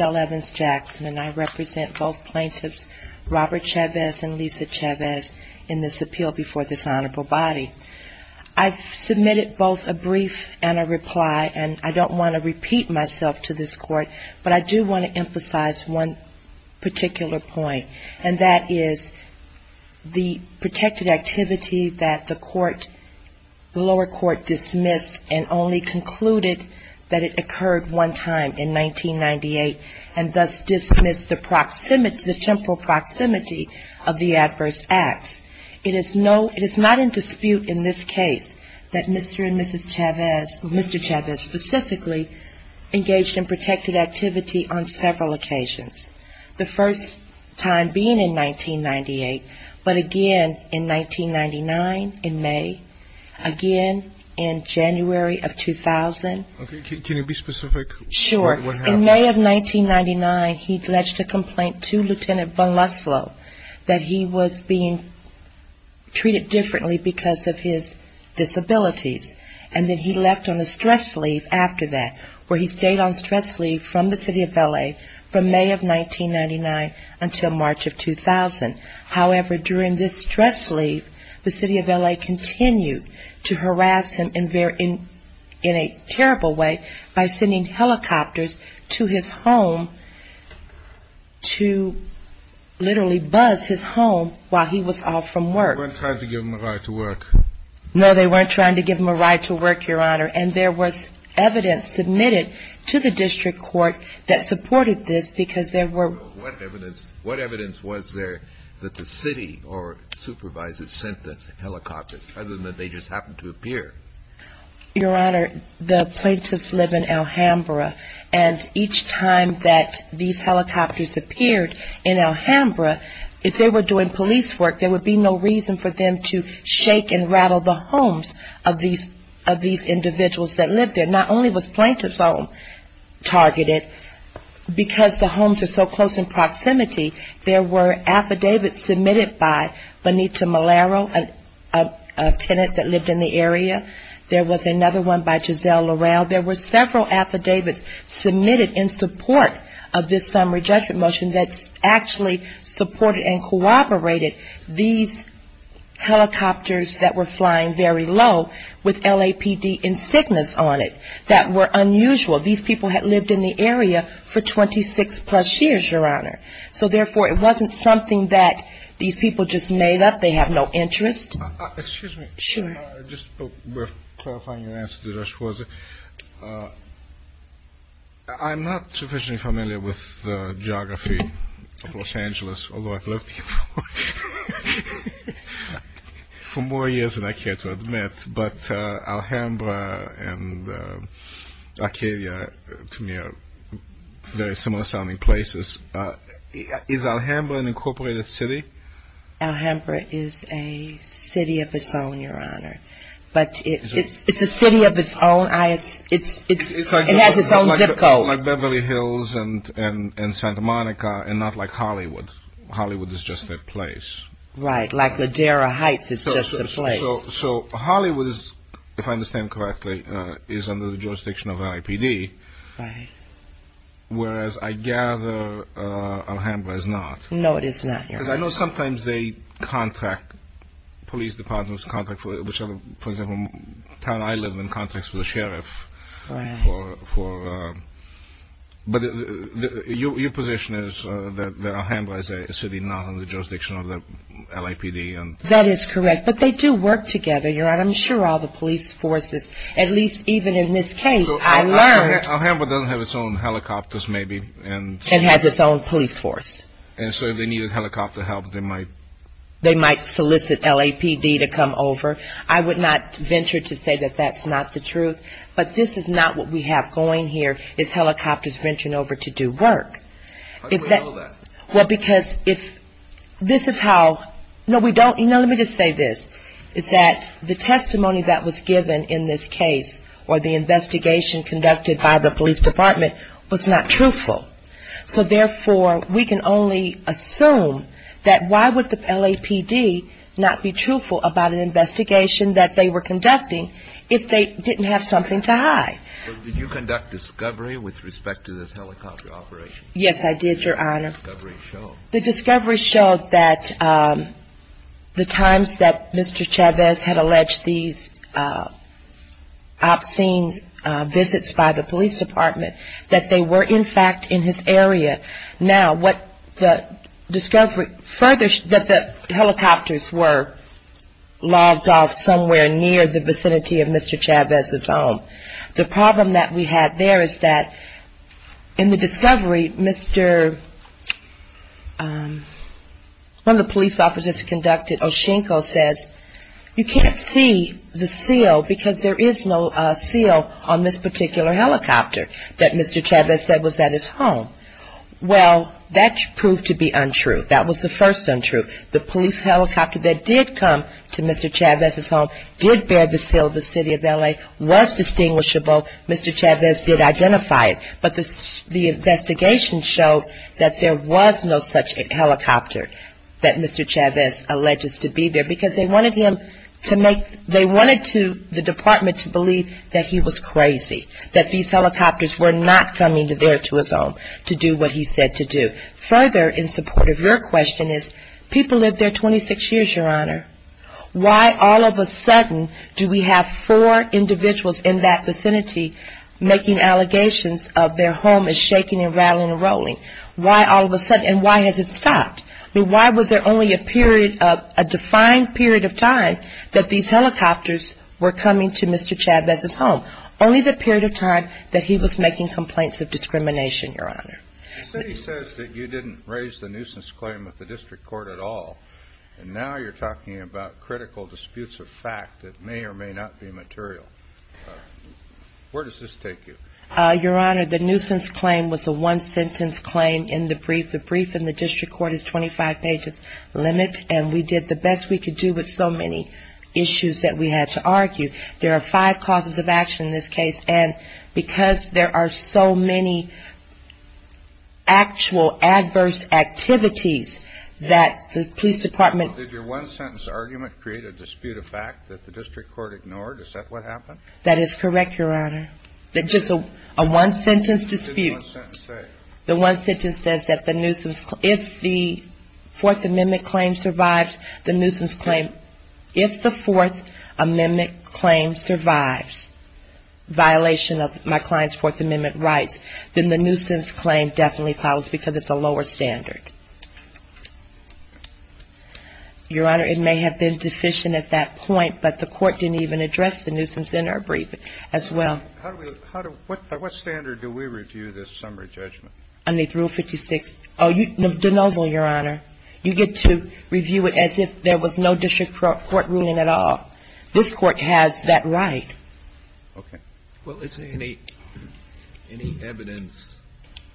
I represent both plaintiffs, Robert Chavez and Lisa Chavez, in this appeal before this honorable body. I've submitted both a brief and a reply, and I don't want to repeat myself to this court, but I do want to emphasize one particular point, and that is the protected activity that the lower court dismissed and only concluded that it occurred one time in 1998, and thus dismissed the temporal proximity of the adverse acts. It is not in dispute in this case that Mr. and Mrs. Chavez, Mr. Chavez specifically, engaged in protected activity on several occasions, the first time being in 1998, but again in 1999 in May, again in January of 2000. Can you be specific? Sure. In May of 1999, he pledged a complaint to Lt. Von Lutzlo that he was being treated differently because of his disabilities, and then he left on a stress leave after that, where he stayed on stress leave from the City of L.A. from May of 1999 until March of 2000. However, during this stress leave, the City of L.A. continued to harass him in a terrible way by sending helicopters to his home to literally buzz his home while he was off from work. They weren't trying to give him a ride to work. No, they weren't trying to give him a ride to work, Your Honor, and there was evidence submitted to the district court that supported this because there were... What evidence was there that the city or supervisors sent the helicopters, other than that they just happened to appear? Your Honor, the plaintiffs live in Alhambra, and each time that these helicopters appeared in Alhambra, if they were doing police work, there would be no reason for them to shake and rattle the homes of these individuals that lived there. And not only was plaintiff's home targeted, because the homes are so close in proximity, there were affidavits submitted by Benita Malaro, a tenant that lived in the area. There was another one by Giselle Laurel. There were several affidavits submitted in support of this summary judgment motion that actually supported and corroborated these helicopters that were flying very low with LAPD insignias on it. That were unusual. These people had lived in the area for 26-plus years, Your Honor. So, therefore, it wasn't something that these people just made up. They have no interest. Excuse me. Sure. Just clarifying your answer to that, I'm not sufficiently familiar with the geography of Los Angeles, although I've lived here for more years than I care to admit. But Alhambra and Arcadia, to me, are very similar-sounding places. Is Alhambra an incorporated city? Alhambra is a city of its own, Your Honor. But it's a city of its own. It has its own zip code. Like Beverly Hills and Santa Monica, and not like Hollywood. Hollywood is just a place. Right. Like Ladera Heights is just a place. So, Hollywood, if I understand correctly, is under the jurisdiction of LAPD. Right. Whereas, I gather, Alhambra is not. No, it is not, Your Honor. Because I know sometimes they contract, police departments contract, for example, the town I live in contracts with the sheriff. Right. But your position is that Alhambra is a city not under the jurisdiction of the LAPD. That is correct. But they do work together, Your Honor. I'm sure all the police forces, at least even in this case, I learned- So, Alhambra doesn't have its own helicopters, maybe? It has its own police force. And so, if they needed helicopter help, they might- They might solicit LAPD to come over. I would not venture to say that that's not the truth. But this is not what we have going here, is helicopters venturing over to do work. How do we know that? Well, because if this is how- No, we don't- No, let me just say this, is that the testimony that was given in this case, or the investigation conducted by the police department, was not truthful. So, therefore, we can only assume that why would the LAPD not be truthful about an investigation that they were conducting if they didn't have something to hide? Did you conduct discovery with respect to this helicopter operation? Yes, I did, Your Honor. What did the discovery show? The discovery showed that the times that Mr. Chavez had alleged these obscene visits by the police department, that they were, in fact, in his area. Now, what the discovery further- that the helicopters were logged off somewhere near the vicinity of Mr. Chavez's home. The problem that we had there is that in the discovery, Mr.- one of the police officers who conducted it, Oshinko, says, you can't see the seal because there is no seal on this particular helicopter that Mr. Chavez said was at his home. Well, that proved to be untrue. That was the first untruth. The police helicopter that did come to Mr. Chavez's home did bear the seal of the city of L.A., was distinguishable. Mr. Chavez did identify it. But the investigation showed that there was no such helicopter that Mr. Chavez alleged to be there because they wanted him to make- they wanted the department to believe that he was crazy, that these helicopters were not coming there to his home to do what he said to do. Now, what the discovery further in support of your question is, people lived there 26 years, Your Honor. Why all of a sudden do we have four individuals in that vicinity making allegations of their home as shaking and rattling and rolling? Why all of a sudden? And why has it stopped? I mean, why was there only a period of- a defined period of time that these helicopters were coming to Mr. Chavez's home? Only the period of time that he was making complaints of discrimination, Your Honor. The city says that you didn't raise the nuisance claim with the district court at all, and now you're talking about critical disputes of fact that may or may not be material. Where does this take you? Your Honor, the nuisance claim was a one-sentence claim in the brief. The brief in the district court is 25 pages limit, and we did the best we could do with so many issues that we had to argue. There are five causes of action in this case, and because there are so many actual adverse activities that the police department- Did your one-sentence argument create a dispute of fact that the district court ignored? Is that what happened? That is correct, Your Honor. Just a one-sentence dispute. What did the one-sentence say? The one-sentence says that the nuisance- if the Fourth Amendment claim survives, the nuisance claim- if the Fourth Amendment claim survives, violation of my client's Fourth Amendment rights, then the nuisance claim definitely follows because it's a lower standard. Your Honor, it may have been deficient at that point, but the court didn't even address the nuisance in our brief as well. What standard do we review this summary judgment? Under Rule 56. Oh, de novo, Your Honor. You get to review it as if there was no district court ruling at all. This Court has that right. Okay. Well, is there any evidence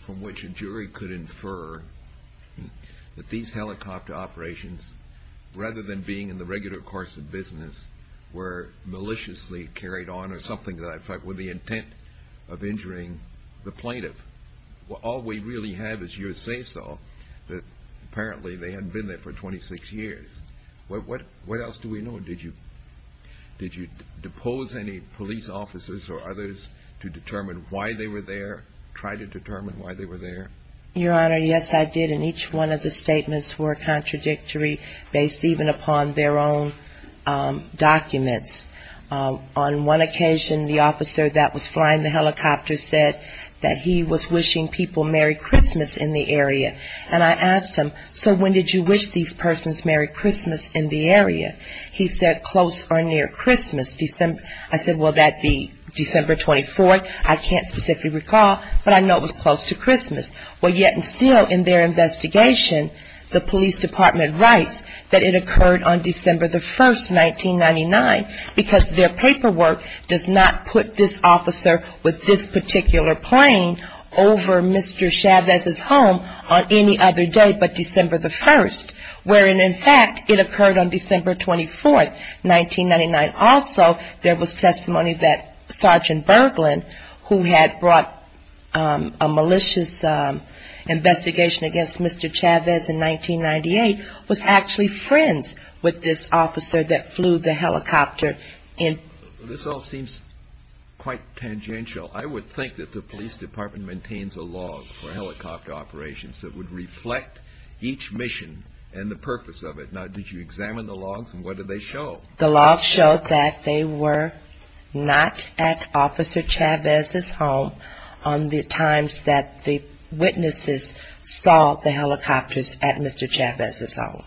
from which a jury could infer that these helicopter operations, rather than being in the regular course of business, were maliciously or were the intent of injuring the plaintiff? All we really have is your say-so that apparently they hadn't been there for 26 years. What else do we know? Did you depose any police officers or others to determine why they were there, try to determine why they were there? Your Honor, yes, I did, and each one of the statements were contradictory, based even upon their own documents. On one occasion, the officer that was flying the helicopter said that he was wishing people Merry Christmas in the area, and I asked him, so when did you wish these persons Merry Christmas in the area? He said, close or near Christmas. I said, well, that would be December 24th. I can't specifically recall, but I know it was close to Christmas. Well, yet and still in their investigation, the police department writes that it occurred on December the 1st, 1999, because their paperwork does not put this officer with this particular plane over Mr. Chavez's home on any other day but December the 1st, wherein, in fact, it occurred on December 24th, 1999. Also, there was testimony that Sergeant Berglund, who had brought a malicious investigation against Mr. Chavez in 1998, was actually friends with this officer that flew the helicopter. This all seems quite tangential. I would think that the police department maintains a log for helicopter operations that would reflect each mission and the purpose of it. Now, did you examine the logs, and what did they show? The logs showed that they were not at Officer Chavez's home on the times that the witnesses saw the helicopters at Mr. Chavez's home.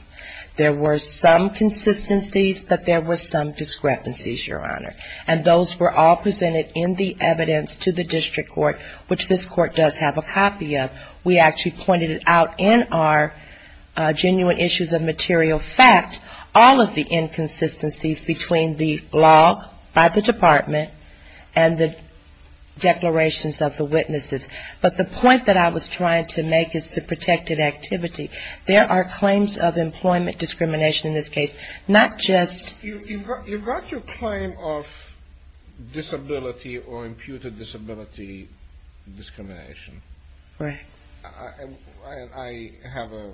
There were some consistencies, but there were some discrepancies, Your Honor, and those were all presented in the evidence to the district court, which this court does have a copy of. We actually pointed it out in our genuine issues of material fact, all of the inconsistencies between the log by the department and the declarations of the witnesses, but the point that I was trying to make is the protected activity. There are claims of employment discrimination in this case, not just… You brought your claim of disability or imputed disability discrimination. Right. I have a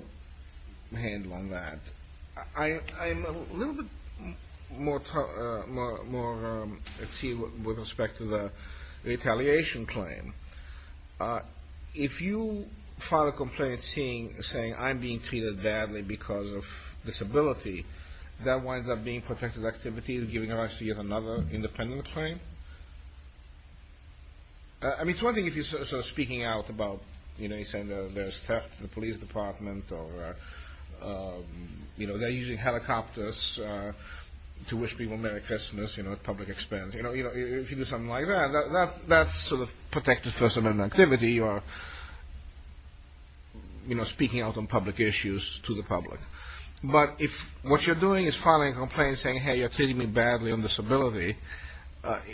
handle on that. I'm a little bit more… let's see, with respect to the retaliation claim. If you file a complaint saying, I'm being treated badly because of disability, that winds up being protected activity and giving us yet another independent claim? I mean, it's one thing if you're sort of speaking out about, you know, you're saying there's theft in the police department or, you know, they're using helicopters to wish people Merry Christmas, you know, at public expense. You know, if you do something like that, that's sort of protected First Amendment activity. You are, you know, speaking out on public issues to the public, but if what you're doing is filing a complaint saying, hey, you're treating me badly on disability,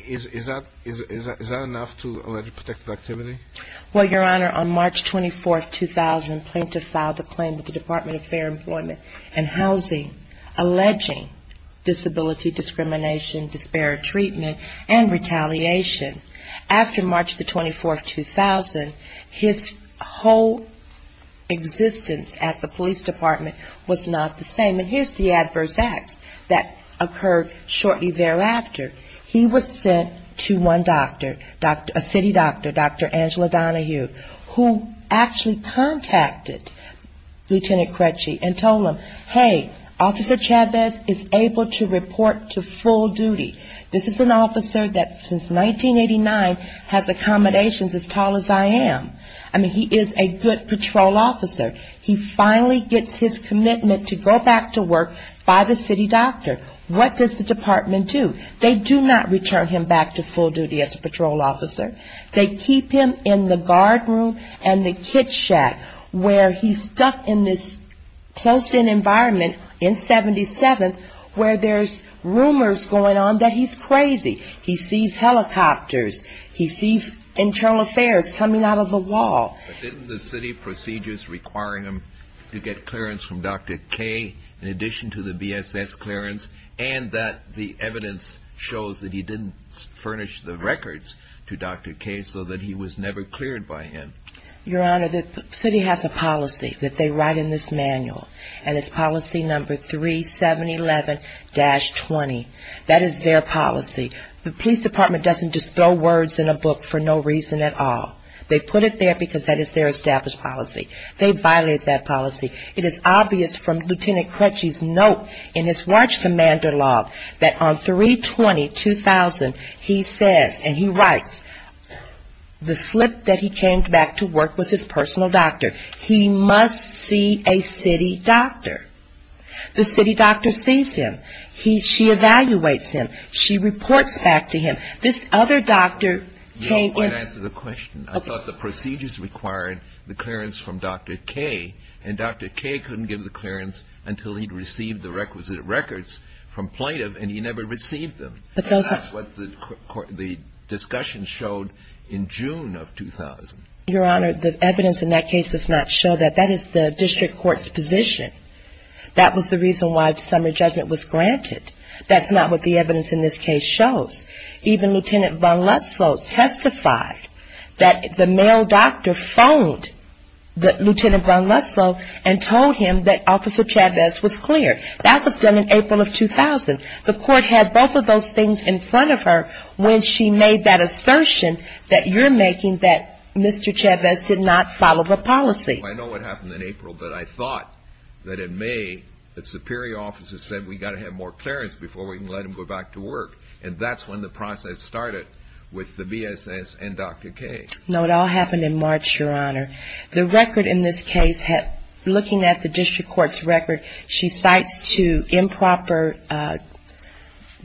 is that enough to allege protected activity? Well, Your Honor, on March 24, 2000, Plaintiff filed a claim with the Department of Fair Employment and Housing alleging disability discrimination, disparate treatment and retaliation. After March 24, 2000, his whole existence at the police department was not the same. I mean, here's the adverse acts that occurred shortly thereafter. He was sent to one doctor, a city doctor, Dr. Angela Donahue, who actually contacted Lieutenant Crecce and told him, hey, Officer Chavez is able to report to full duty. This is an officer that since 1989 has accommodations as tall as I am. I mean, he is a good patrol officer. He finally gets his commitment to go back to work by the city doctor. What does the department do? They do not return him back to full duty as a patrol officer. They keep him in the guard room and the kit shack where he's stuck in this closed-in environment in 77th where there's rumors going on that he's crazy. He sees helicopters. He sees internal affairs coming out of the wall. Didn't the city procedures requiring him to get clearance from Dr. K in addition to the BSS clearance and that the evidence shows that he didn't furnish the records to Dr. K so that he was never cleared by him? Your Honor, the city has a policy that they write in this manual, and it's policy number 3711-20. That is their policy. The police department doesn't just throw words in a book for no reason at all. They put it there because that is their established policy. They violate that policy. It is obvious from Lieutenant Crutchie's note in his watch commander log that on 320-2000 he says and he writes, the slip that he came back to work was his personal doctor. He must see a city doctor. The city doctor sees him. She evaluates him. She reports back to him. This other doctor came in. I thought the procedures required the clearance from Dr. K, and Dr. K couldn't give the clearance until he'd received the requisite records from plaintiff, and he never received them. That's what the discussion showed in June of 2000. Your Honor, the evidence in that case does not show that. That is the district court's position. That was the reason why summer judgment was granted. That's not what the evidence in this case shows. Even Lieutenant Von Lutzow testified that the male doctor phoned Lieutenant Von Lutzow and told him that Officer Chavez was clear. That was done in April of 2000. The court had both of those things in front of her when she made that assertion that you're making that Mr. Chavez did not follow the policy. I know what happened in April, but I thought that in May the superior officer said we've got to have more clearance before we can let him go back to work, and that's when the process started with the BSS and Dr. K. No, it all happened in March, Your Honor. The record in this case, looking at the district court's record, she cites two improper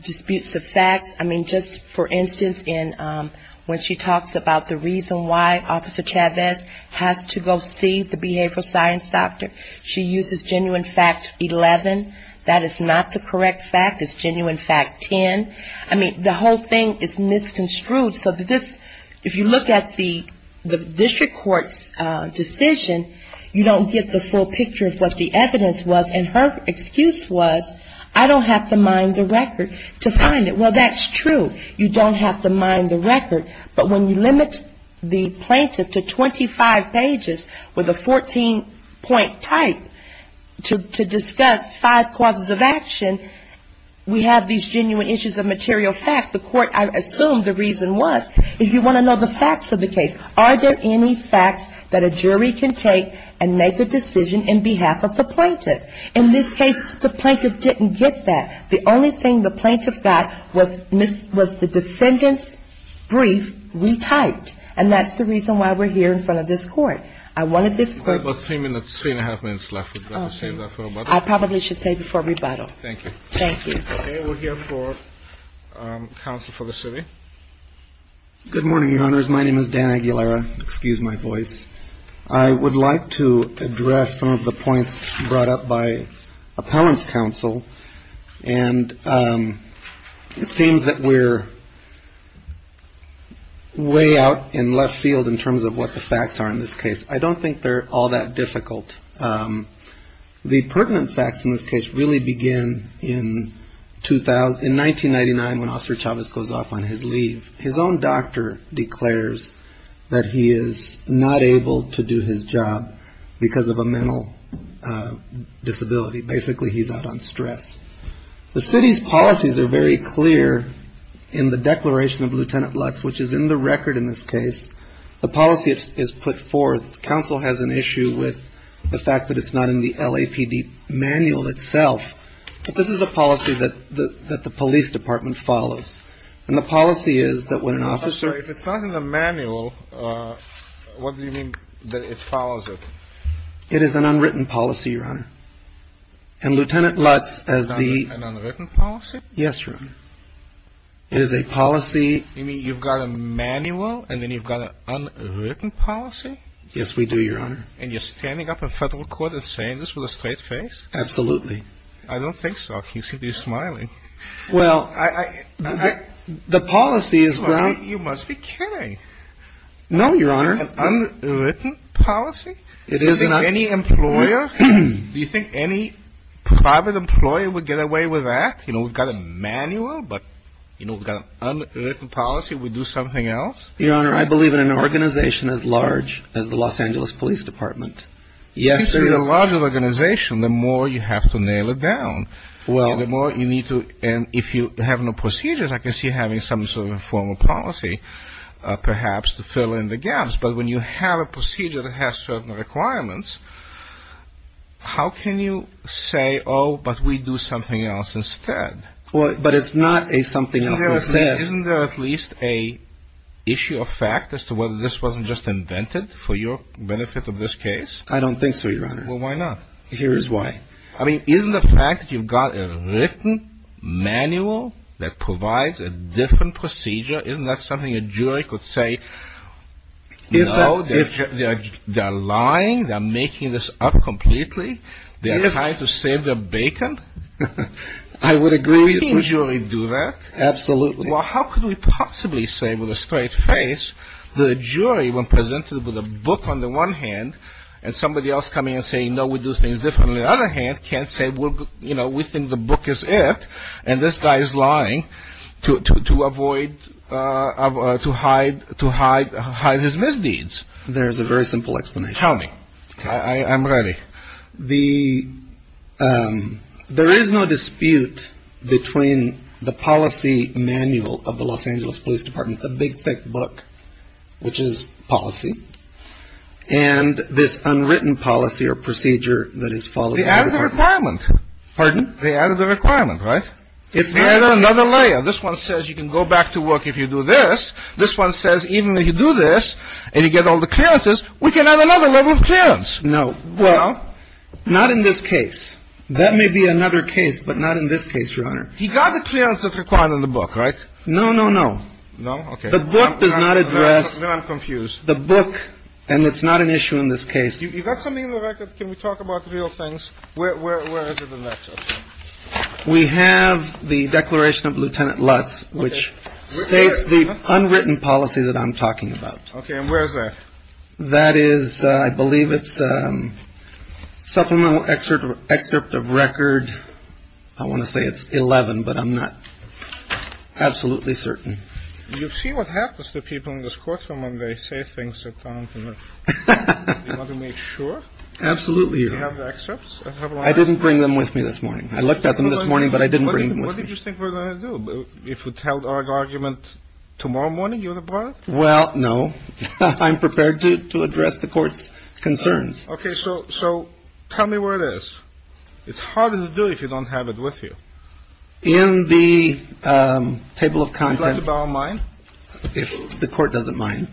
disputes of facts. I mean, just for instance, when she talks about the reason why Officer Chavez has to go see the district court, the behavioral science doctor, she uses genuine fact 11. That is not the correct fact. It's genuine fact 10. I mean, the whole thing is misconstrued. So this, if you look at the district court's decision, you don't get the full picture of what the evidence was, and her excuse was I don't have to mind the record to find it. Well, that's true. You don't have to mind the record, but when you limit the 14-point type to discuss five causes of action, we have these genuine issues of material fact. The court assumed the reason was, if you want to know the facts of the case, are there any facts that a jury can take and make a decision in behalf of the plaintiff? In this case, the plaintiff didn't get that. The only thing the plaintiff got was the defendant's brief retyped, and that's the reason why we're here in this case. I would like to address some of the points brought up by appellant's counsel, and it seems that we're way out in left field in terms of what the plaintiff is trying to do, and it's not all that difficult. The pertinent facts in this case really begin in 1999, when Oscar Chavez goes off on his leave. His own doctor declares that he is not able to do his job because of a mental disability. Basically, he's out on stress. The city's policies are very clear in the declaration of Lieutenant Lutz, which is in the record in this case. The policy is put forth. The counsel has an issue with the fact that it's not in the LAPD manual itself, but this is a policy that the police department follows, and the policy is that when an officer… If it's not in the manual, what do you mean that it follows it? It is an unwritten policy, Your Honor. And Lieutenant Lutz, as the… Is that an unwritten policy? Yes, Your Honor. It is a policy… You mean you've got a manual, and then you've got an unwritten policy? Yes, we do, Your Honor. And you're standing up in federal court and saying this with a straight face? Absolutely. I don't think so. You seem to be smiling. Well, I… The policy is… You must be kidding. No, Your Honor. Any employer… Do you think any private employer would get away with that? You know, we've got a manual, but, you know, we've got an unwritten policy. We do something else? Your Honor, I believe in an organization as large as the Los Angeles Police Department. I think the larger the organization, the more you have to nail it down. And if you have no procedures, I can see having some sort of a formal policy, perhaps, to fill in the gaps. But when you have a procedure that has certain requirements, how can you say, oh, but we do something else instead? Well, but it's not a something else instead. Isn't there at least an issue of fact as to whether this wasn't just invented for your benefit of this case? I don't think so, Your Honor. Well, why not? Here's why. I mean, isn't the fact that you've got a written manual that provides a different procedure… Isn't that something a jury could say, no, they're lying, they're making this up completely, they're trying to save their bacon? I would agree. How could we possibly say with a straight face that a jury, when presented with a book on the one hand, and somebody else coming and saying, no, we do things differently on the other hand, can't say, well, you know, we think the book is it, and this guy is lying to avoid, you know, getting sued. Well, there's a very simple explanation. Tell me. I'm ready. There is no dispute between the policy manual of the Los Angeles Police Department, the big, thick book, which is policy, and this unwritten policy or procedure that is followed by the department. They added a requirement. It's not another layer. This one says you can go back to work if you do this. This one says even if you do this and you get all the clearances, we can add another level of clearance. No. Well, not in this case. That may be another case, but not in this case, Your Honor. He got the clearances required in the book, right? No, no, no. No? Okay. The book does not address the book, and it's not an issue in this case. You've got something in the record. Can we talk about the real things? Where is it in that? We have the declaration of Lieutenant Lutz, which states the unwritten policy that I'm talking about. Okay. And where is that? That is, I believe it's supplemental excerpt of record. I want to say it's 11, but I'm not absolutely certain. You see what happens to people in this courtroom when they say things that don't make sure. Absolutely. I didn't bring them with me this morning. I looked at them this morning, but I didn't bring them with me. Well, no, I'm prepared to address the Court's concerns. Okay. So tell me where it is. It's harder to do if you don't have it with you. In the table of contents. If the Court doesn't mind.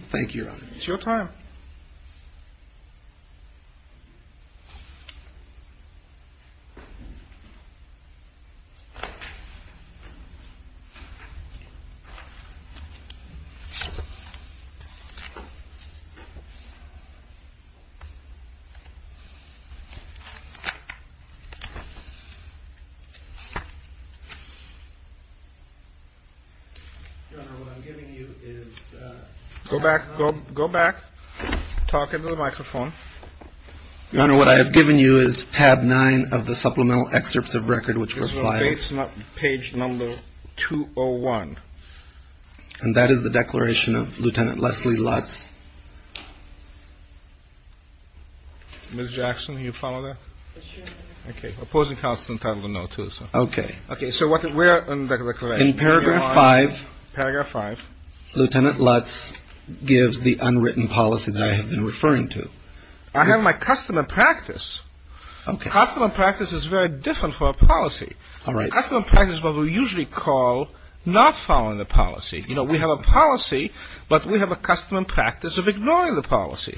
Go back, go back, talk into the microphone. Your Honor, what I have given you is tab nine of the supplemental excerpts of record which were filed. Page number 201. And that is the declaration of Lieutenant Leslie Lutz. Ms. Jackson, you follow that? Okay. Opposing counsel is entitled to know, too. Okay. Okay. So where is the declaration? In paragraph five. Paragraph five. Lieutenant Lutz gives the unwritten policy that I have been referring to. I have my custom and practice. Okay. Custom and practice is very different for a policy. All right. Custom and practice is what we usually call not following the policy. You know, we have a policy, but we have a custom and practice of ignoring the policy.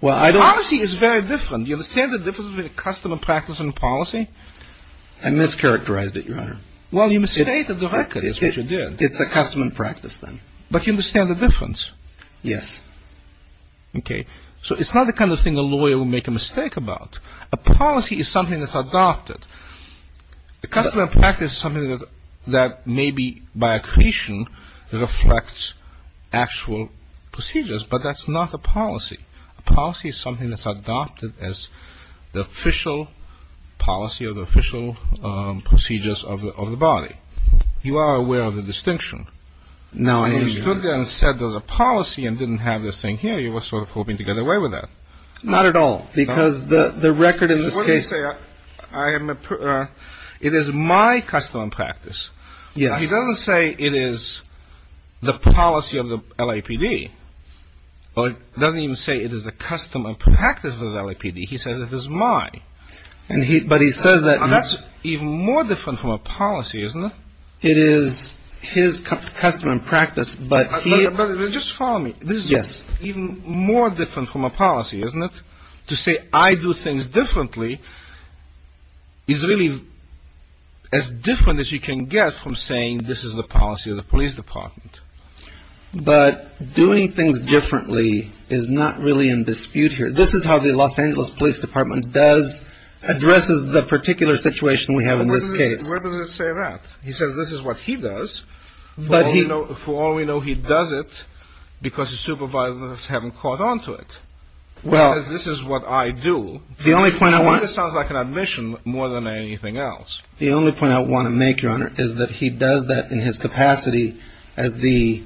Well, I don't. The policy is very different. Do you understand the difference between a custom and practice and a policy? I mischaracterized it, Your Honor. Well, you misstated the record. It's what you did. It's a custom and practice, then. But you understand the difference? Yes. Okay. So it's not the kind of thing a lawyer would make a mistake about. A policy is something that's adopted. A custom and practice is something that maybe by accretion reflects actual procedures. But that's not a policy. A policy is something that's adopted as the official policy or the official procedures of the body. You are aware of the distinction. No, I am not. You stood there and said there's a policy and didn't have this thing here. You were sort of hoping to get away with that. Not at all. Because the record in this case. What did he say? It is my custom and practice. Yes. He doesn't say it is the policy of the LAPD, or he doesn't even say it is a custom and practice of the LAPD. He says it is mine. But he says that. That's even more different from a policy, isn't it? It is his custom and practice, but he. Just follow me. Yes. This is even more different from a policy, isn't it? To say I do things differently is really as different as you can get from saying this is the policy of the police department. But doing things differently is not really in dispute here. This is how the Los Angeles Police Department does, addresses the particular situation we have in this case. Where does it say that? He says this is what he does. For all we know, he does it because his supervisors haven't caught on to it. Well. Because this is what I do. The only point I want. This sounds like an admission more than anything else. The only point I want to make, Your Honor, is that he does that in his capacity as the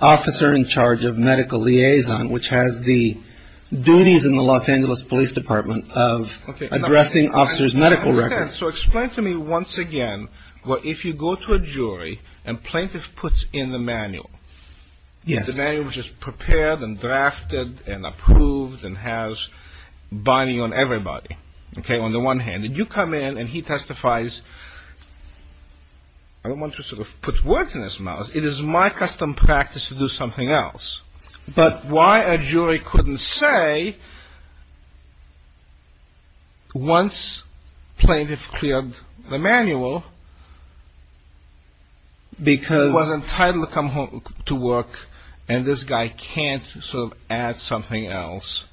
officer in charge of medical liaison, which has the duties in the Los Angeles Police Department of addressing officers' medical records. Okay. So explain to me once again what if you go to a jury and plaintiff puts in the manual. Yes. The manual is just prepared and drafted and approved and has binding on everybody. Okay. On the one hand. And you come in and he testifies. I don't want to sort of put words in his mouth. It is my custom practice to do something else. But why a jury couldn't say once plaintiff cleared the manual. Because. Was entitled to come home to work and this guy can't sort of add something else.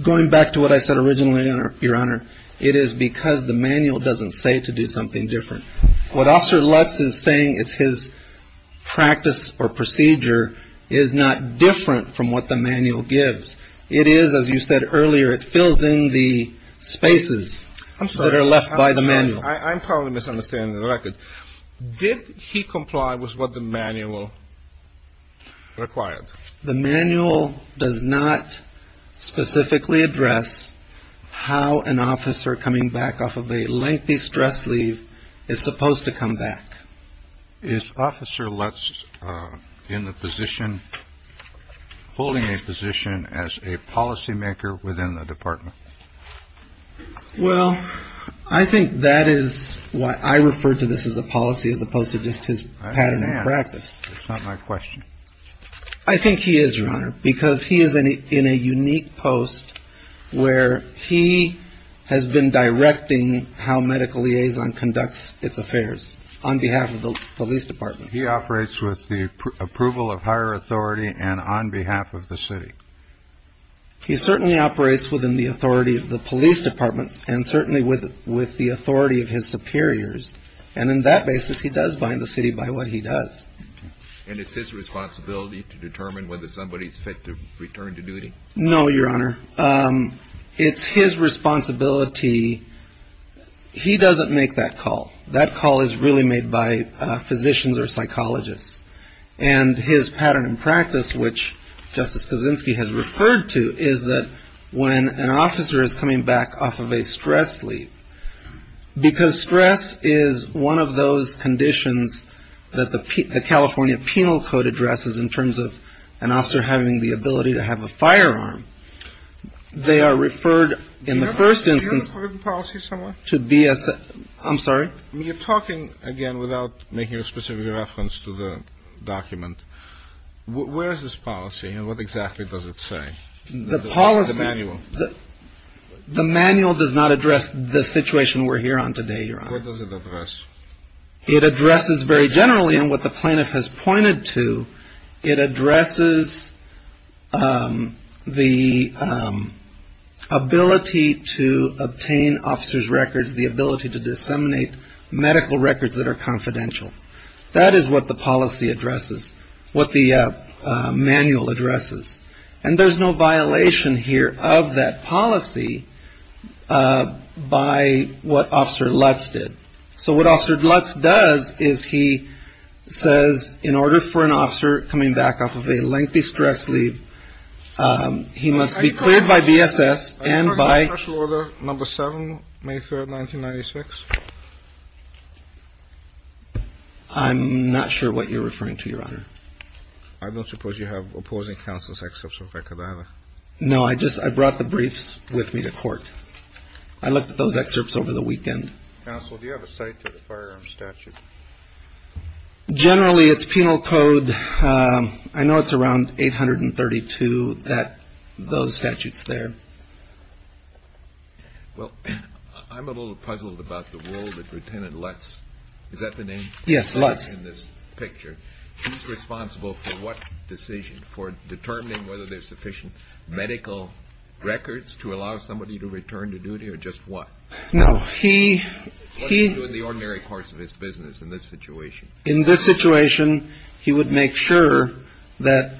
Going back to what I said originally, Your Honor, it is because the manual doesn't say to do something different. What Officer Lutz is saying is his practice or procedure is not different from what the manual gives. It is, as you said earlier, it fills in the spaces. I'm sorry. That are left by the manual. I'm probably misunderstanding the record. Did he comply with what the manual required? The manual does not specifically address how an officer coming back off of a lengthy stress leave is supposed to come back. Is Officer Lutz in the position holding a position as a policymaker within the department? Well, I think that is why I refer to this as a policy as opposed to just his pattern and practice. It's not my question. I think he is, Your Honor, because he is in a unique post where he has been directing how medical liaison conducts its affairs on behalf of the police department. He operates with the approval of higher authority and on behalf of the city. He certainly operates within the authority of the police department and certainly with with the authority of his superiors. And in that basis, he does bind the city by what he does. And it's his responsibility to determine whether somebody is fit to return to duty. No, Your Honor. It's his responsibility. He doesn't make that call. That call is really made by physicians or psychologists. And his pattern and practice, which Justice Kuczynski has referred to, is that when an officer is coming back off of a stress leave, because stress is one of those conditions that the California Penal Code addresses in terms of an officer having the ability to have a firearm, they are referred in the first instance to be a set. I'm sorry? You're talking, again, without making a specific reference to the document. Where is this policy and what exactly does it say? The policy. The manual. The manual does not address the situation we're here on today, Your Honor. What does it address? It addresses very generally, and what the plaintiff has pointed to, it addresses the ability to obtain officers' records, the ability to disseminate medical records that are confidential. That is what the policy addresses, what the manual addresses. And there's no violation here of that policy by what Officer Lutz did. So what Officer Lutz does is he says, in order for an officer coming back off of a lengthy stress leave, he must be cleared by BSS and by... I don't know if it's been in the record since 1996. I'm not sure what you're referring to, Your Honor. I don't suppose you have opposing counsel's excerpts with record either? No, I just brought the briefs with me to court. I looked at those excerpts over the weekend. Counsel, do you have a cite to the firearm statute? Generally, it's penal code. I know it's around 832, those statutes there. Well, I'm a little puzzled about the role that Lieutenant Lutz – is that the name? Yes, Lutz. In this picture. He's responsible for what decision, for determining whether there's sufficient medical records to allow somebody to return to duty or just what? No. What does he do in the ordinary course of his business in this situation? In this situation, he would make sure that,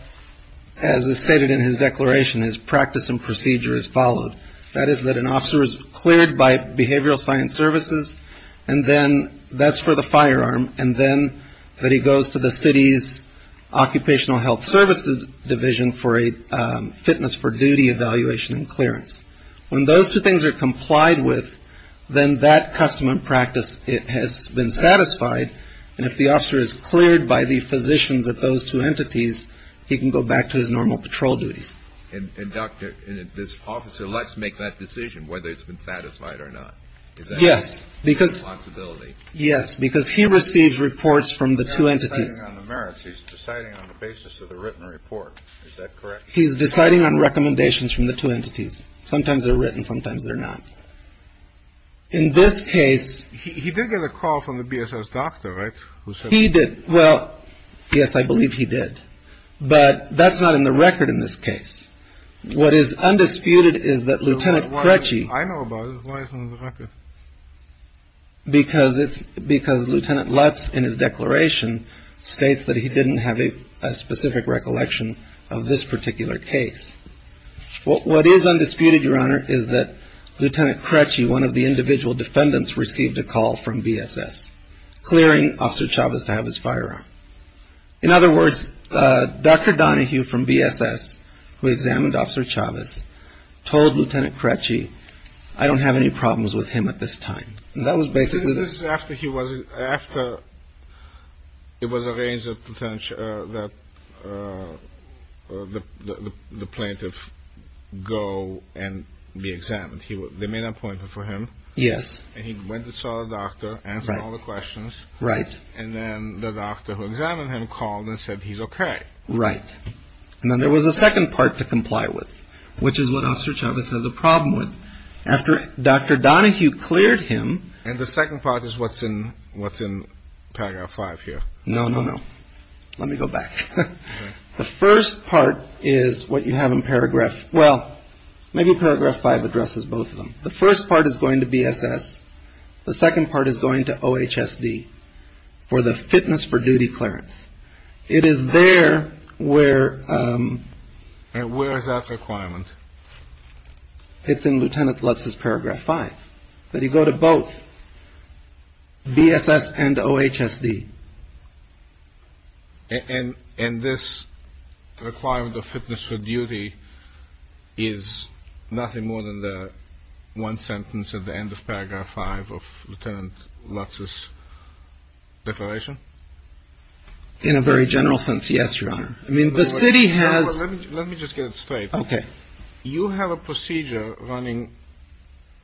as is stated in his declaration, his practice and procedure is followed. That is, that an officer is cleared by behavioral science services, and then that's for the firearm, and then that he goes to the city's occupational health services division for a fitness for duty evaluation and clearance. When those two things are complied with, then that custom and practice has been satisfied, and if the officer is cleared by the physicians of those two entities, he can go back to his normal patrol duties. And, Doctor, this officer lets make that decision whether it's been satisfied or not? Yes. Is that his responsibility? Yes, because he receives reports from the two entities. He's not deciding on the merits. He's deciding on the basis of the written report. Is that correct? He's deciding on recommendations from the two entities. Sometimes they're written, sometimes they're not. In this case... He did get a call from the BSS doctor, right, who said... He did. Well, yes, I believe he did. But that's not in the record in this case. What is undisputed is that Lieutenant Krecci... I know about it. Why isn't it in the record? Because Lieutenant Lutz in his declaration states that he didn't have a specific recollection of this particular case. What is undisputed, Your Honor, is that Lieutenant Krecci, one of the individual defendants, received a call from BSS clearing Officer Chavez to have his firearm. In other words, Doctor Donahue from BSS, who examined Officer Chavez, told Lieutenant Krecci, I don't have any problems with him at this time. That was basically the... So this is after he was... After it was arranged that the plaintiff go and be examined. They made an appointment for him. Yes. And he went and saw the doctor, answered all the questions. Right. And then the doctor who examined him called and said he's okay. Right. And then there was a second part to comply with, which is what Officer Chavez has a problem with. After Doctor Donahue cleared him... And the second part is what's in Paragraph 5 here. No, no, no. Let me go back. The first part is what you have in Paragraph... Well, maybe Paragraph 5 addresses both of them. The first part is going to BSS. The second part is going to OHSD for the fitness for duty clearance. It is there where... And where is that requirement? It's in Lieutenant Lutz's Paragraph 5, that you go to both BSS and OHSD. And this requirement of fitness for duty is nothing more than the one sentence at the end of Paragraph 5 of Lieutenant Lutz's declaration? In a very general sense, yes, Your Honor. I mean, the city has... Let me just get it straight. Okay. You have a procedure running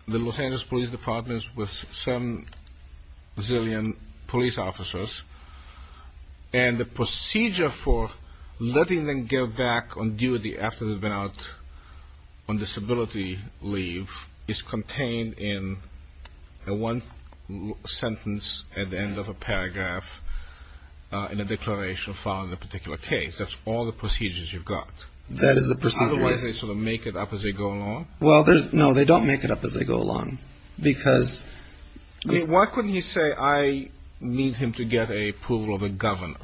the Los Angeles Police Department with 7 zillion police officers, and the procedure for letting them get back on duty after they've been out on disability leave is contained in the one sentence at the end of a paragraph in a declaration following a particular case. That's all the procedures you've got. That is the procedure, yes. Otherwise, they sort of make it up as they go along? Well, no, they don't make it up as they go along, because... Why couldn't he say, I need him to get approval of a governor?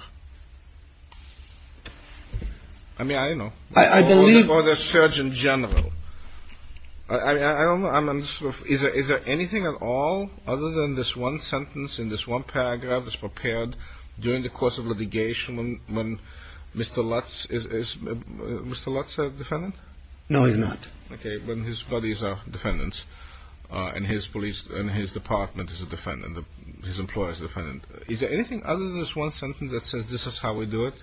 I mean, I don't know. I believe... Or the Surgeon General. I don't know. Is there anything at all other than this one sentence in this one paragraph that's prepared during the course of litigation when Mr. Lutz is... Is Mr. Lutz a defendant? No, he's not. Okay. When his buddies are defendants and his department is a defendant, his employer is a defendant, is there anything other than this one sentence that says, this is how we do it?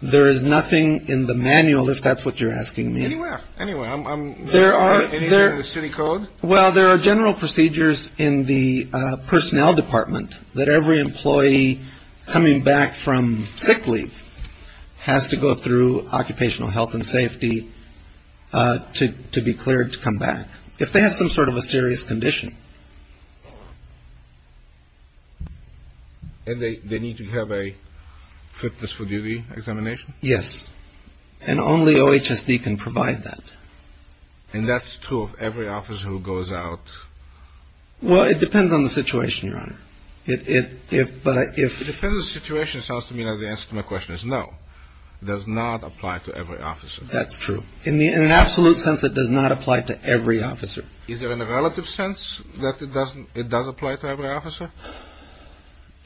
There is nothing in the manual, if that's what you're asking me. Anywhere. Anywhere. Anything in the city code? Well, there are general procedures in the personnel department that every employee coming back from sick leave has to go through occupational health and safety to be cleared to come back, if they have some sort of a serious condition. And they need to have a fitness for duty examination? Yes. And only OHSD can provide that. And that's true of every officer who goes out? Well, it depends on the situation, Your Honor. It depends on the situation sounds to me like the answer to my question is no. It does not apply to every officer. That's true. In an absolute sense, it does not apply to every officer. Is there in a relative sense that it does apply to every officer?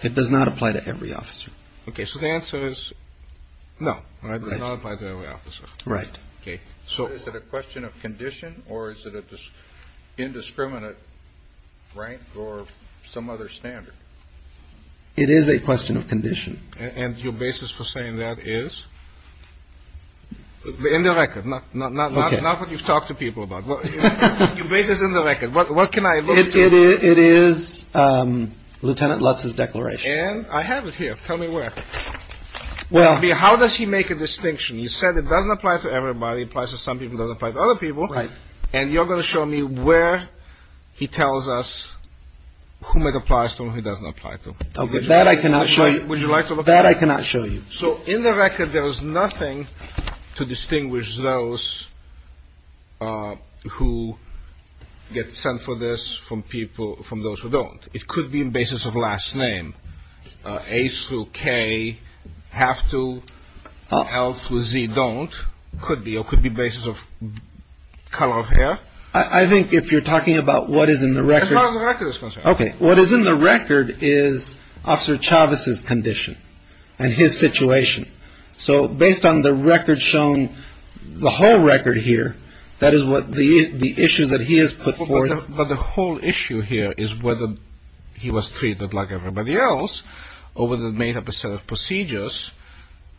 It does not apply to every officer. Okay. So the answer is no, right? It does not apply to every officer. Right. Okay. So is it a question of condition or is it indiscriminate, right? Or some other standard? It is a question of condition. And your basis for saying that is? In the record. Not what you've talked to people about. Your basis in the record. What can I look to? It is Lieutenant Lutz's declaration. And I have it here. Tell me where. How does he make a distinction? You said it doesn't apply to everybody. It applies to some people. It doesn't apply to other people. Right. And you're going to show me where he tells us whom it applies to and whom it doesn't apply to. Okay. That I cannot show you. Would you like to look at it? That I cannot show you. So in the record, there is nothing to distinguish those who get sent for this from people, from those who don't. It could be in basis of last name. A through K have to. L through Z don't. Could be. Or could be basis of color of hair. I think if you're talking about what is in the record. As far as the record is concerned. Okay. What is in the record is Officer Chavez's condition and his situation. So based on the record shown, the whole record here, that is what the issues that he has put forth. But the whole issue here is whether he was treated like everybody else or whether it made up a set of procedures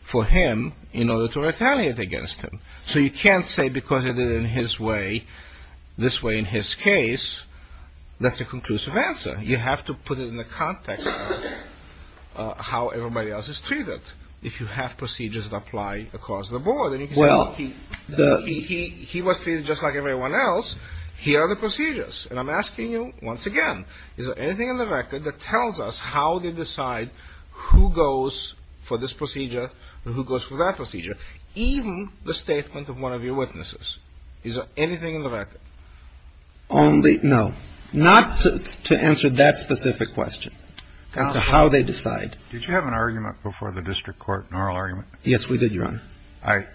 for him in order to retaliate against him. So you can't say because it is in his way, this way in his case, that's a conclusive answer. You have to put it in the context of how everybody else is treated. If you have procedures that apply across the board. Well. He was treated just like everyone else. Here are the procedures. And I'm asking you once again, is there anything in the record that tells us how they decide who goes for this procedure and who goes for that procedure? Even the statement of one of your witnesses. Is there anything in the record? Only, no. Not to answer that specific question as to how they decide. Did you have an argument before the district court, an oral argument? Yes, we did, Your Honor.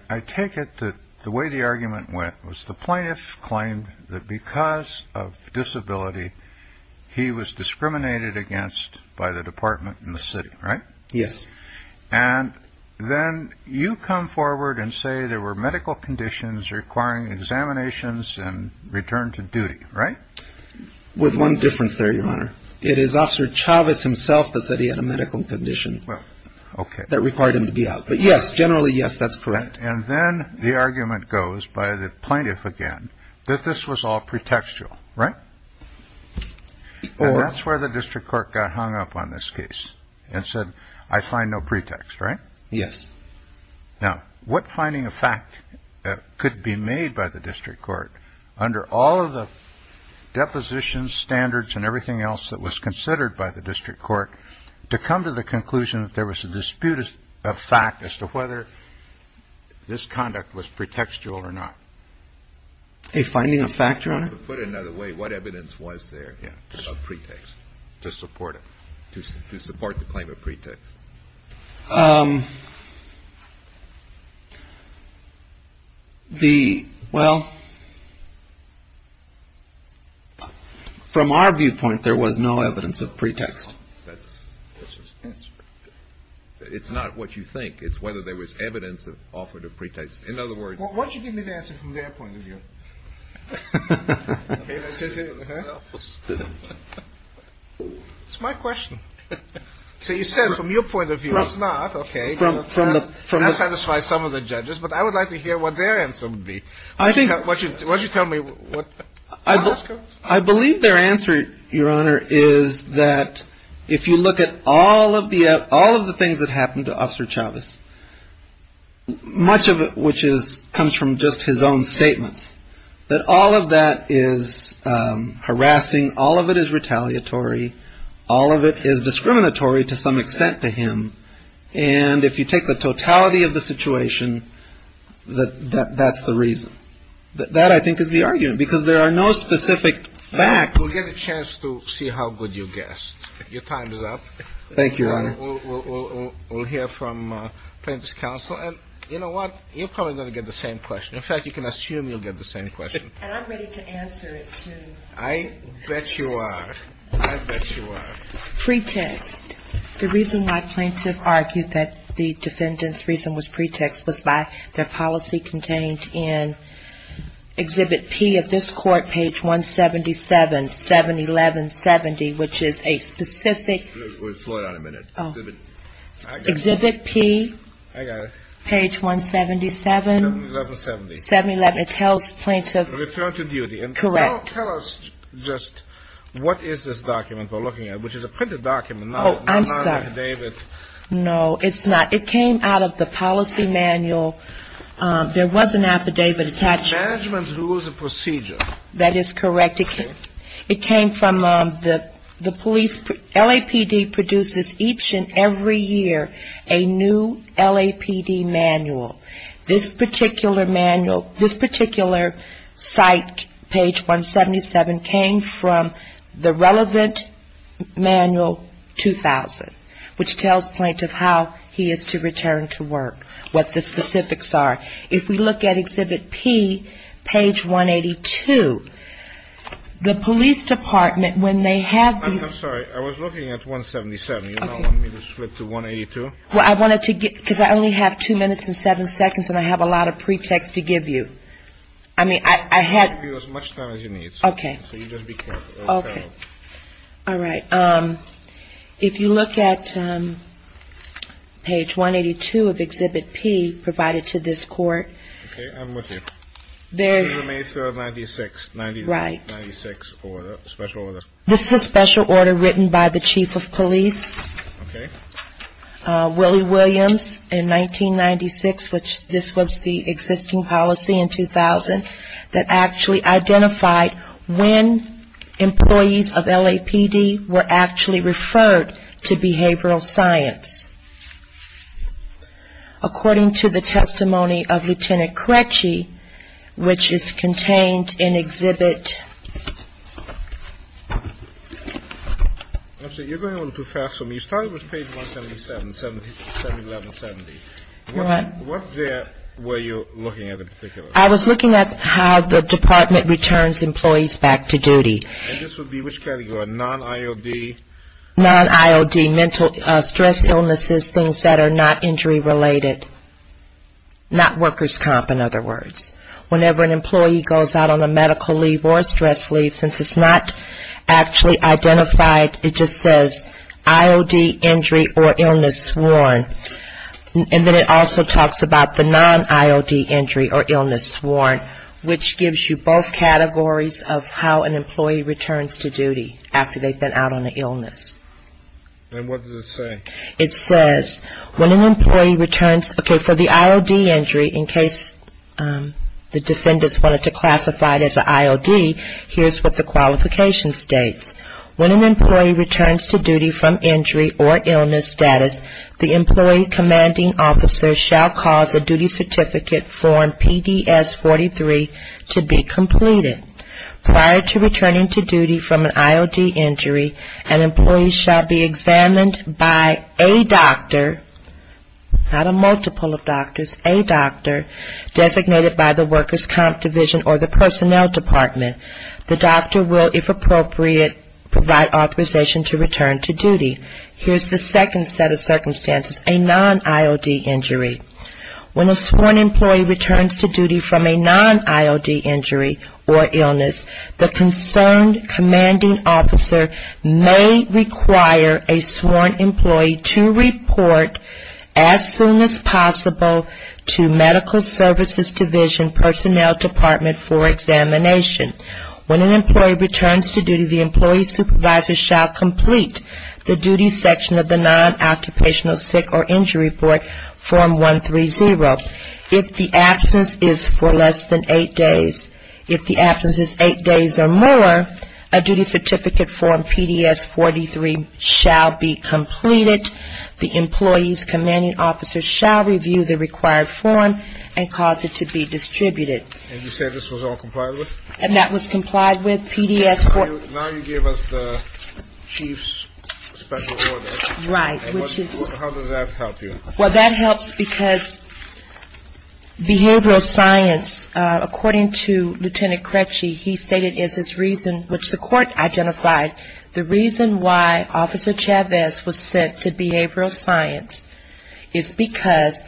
I take it that the way the argument went was the plaintiff claimed that because of disability, he was discriminated against by the department in the city. Right. Yes. And then you come forward and say there were medical conditions requiring examinations and return to duty. Right. With one difference there, Your Honor. It is Officer Chavez himself that said he had a medical condition that required him to be out. But yes, generally, yes, that's correct. And then the argument goes by the plaintiff again that this was all pretextual. Right. That's where the district court got hung up on this case and said, I find no pretext. Right. Yes. Now, what finding of fact could be made by the district court under all of the depositions, standards and everything else that was considered by the district court to come to the conclusion that there was a dispute of fact as to whether this conduct was pretextual or not? A finding of fact, Your Honor? To put it another way, what evidence was there of pretext to support it, to support the claim of pretext? The well. From our viewpoint, there was no evidence of pretext. It's not what you think. It's whether there was evidence that offered a pretext. In other words, once you give me the answer from their point of view. It's my question. So you said from your point of view, it's not. Okay. That satisfies some of the judges. But I would like to hear what their answer would be. Why don't you tell me? I believe their answer, Your Honor, is that if you look at all of the things that happened to Officer Chavez, much of it which comes from just his own statements, that all of that is harassing. All of it is retaliatory. All of it is discriminatory to some extent to him. And if you take the totality of the situation, that's the reason. That, I think, is the argument. Because there are no specific facts. We'll get a chance to see how good you guessed. Your time is up. Thank you, Your Honor. We'll hear from plaintiff's counsel. And you know what? You're probably going to get the same question. In fact, you can assume you'll get the same question. And I'm ready to answer it, too. I bet you are. Pretext. The reason why plaintiff argued that the defendant's reason was pretext was by their policy contained in Exhibit P of this court, page 177, 711.70, which is a specific Exhibit P. I got it. Page 177. 711.70. 711. It tells plaintiff. Return to duty. Correct. Can you tell us just what is this document we're looking at, which is a printed document, not an affidavit? Oh, I'm sorry. No, it's not. It came out of the policy manual. There was an affidavit attached. Management rules and procedure. That is correct. It came from the police. LAPD produces each and every year a new LAPD manual. This particular manual, this particular site, page 177, came from the relevant manual 2000, which tells plaintiff how he is to return to work, what the specifics are. If we look at Exhibit P, page 182, the police department, when they have these ---- I'm sorry. I was looking at 177. You don't want me to switch to 182? Well, I wanted to get ---- because I only have two minutes and seven seconds, and I have a lot of pretext to give you. I mean, I had ---- I'll give you as much time as you need. Okay. So you just be careful. Okay. All right. If you look at page 182 of Exhibit P provided to this court ---- Okay. I'm with you. May 3, 1996. Right. 1996 order, special order. This is a special order written by the chief of police. Okay. Willie Williams in 1996, which this was the existing policy in 2000, that actually identified when employees of LAPD were actually referred to behavioral science. According to the testimony of Lieutenant Crecci, which is contained in Exhibit ---- You're going a little too fast for me. You started with page 177, 71170. What there were you looking at in particular? I was looking at how the department returns employees back to duty. And this would be which category, non-IOD? Non-IOD, mental stress illnesses, things that are not injury related. Not workers' comp, in other words. Whenever an employee goes out on a medical leave or a stress leave, since it's not actually identified, it just says IOD injury or illness sworn. And then it also talks about the non-IOD injury or illness sworn, which gives you both categories of how an employee returns to duty after they've been out on an illness. And what does it say? It says when an employee returns, okay, for the IOD injury, in case the defendants wanted to classify it as an IOD, here's what the qualification states. When an employee returns to duty from injury or illness status, the employee commanding officer shall cause a duty certificate form PDS 43 to be completed. Prior to returning to duty from an IOD injury, an employee shall be examined by a doctor, not a multiple of doctors, a doctor designated by the workers' comp division or the personnel department. The doctor will, if appropriate, provide authorization to return to duty. Here's the second set of circumstances, a non-IOD injury. When a sworn employee returns to duty from a non-IOD injury or illness, the concerned commanding officer may require a sworn employee to report as soon as possible to medical services division personnel department for examination. When an employee returns to duty, the employee supervisor shall complete the duty section of the non-occupational sick or injury form 130. If the absence is for less than eight days, if the absence is eight days or more, a duty certificate form PDS 43 shall be completed. The employee's commanding officer shall review the required form and cause it to be distributed. And you said this was all complied with? And that was complied with, PDS. Now you give us the chief's special order. Right. How does that help you? Well, that helps because behavioral science, according to Lieutenant Cretchey, he stated is his reason, which the court identified, the reason why Officer Chavez was sent to behavioral science is because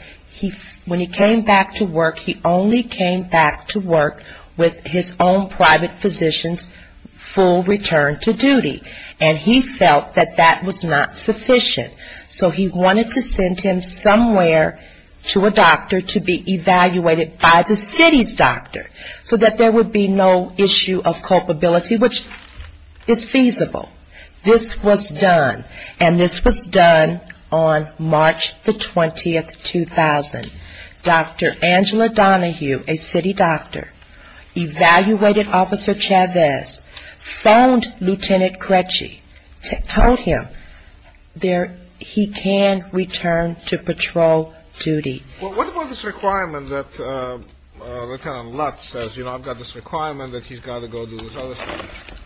when he came back to work, he only came back to work with his own private physician's full return to duty. And he felt that that was not sufficient. So he wanted to send him somewhere to a doctor to be evaluated by the city's doctor so that there would be no issue of culpability, which is feasible. This was done. And this was done on March the 20th, 2000. Dr. Angela Donahue, a city doctor, evaluated Officer Chavez, phoned Lieutenant Cretchey, told him he can return to patrol duty. Well, what about this requirement that Lieutenant Lutz says, you know, I've got this requirement that he's got to go do this other thing?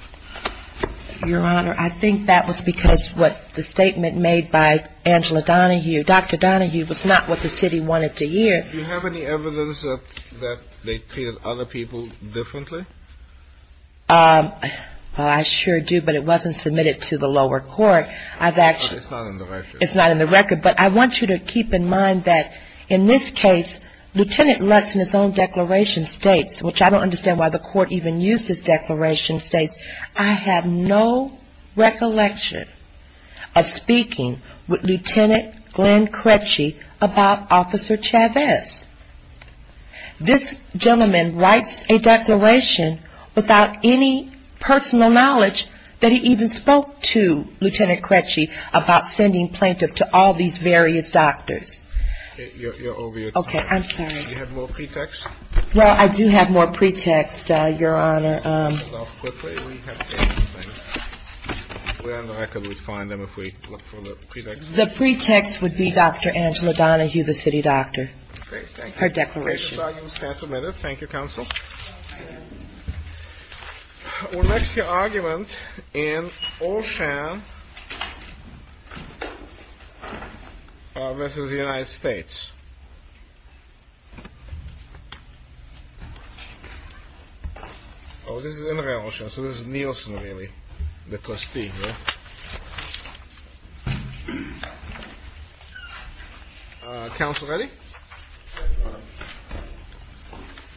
Your Honor, I think that was because what the statement made by Angela Donahue, Dr. Donahue, was not what the city wanted to hear. Do you have any evidence that they treated other people differently? Well, I sure do, but it wasn't submitted to the lower court. It's not in the record. But I want you to keep in mind that in this case, Lieutenant Lutz in his own declaration states, which I don't understand why the court even used this declaration, states, I have no recollection of speaking with Lieutenant Glenn Cretchey about Officer Chavez. This gentleman writes a declaration without any personal knowledge that he even spoke to Lieutenant Cretchey about sending plaintiff to all these various doctors. You're over your time. Okay, I'm sorry. Do you have more pretext? Well, I do have more pretext, Your Honor. Quickly, we have the same thing. We're on the record. We find them if we look for the pretext. The pretext would be Dr. Angela Donahue, the city doctor. Great. Thank you. Her declaration. Thank you, counsel. What makes your argument in Olshan versus the United States? Oh, this is in the real Olshan. So this is Nielsen, really, the trustee here. Counsel, ready? Thank you.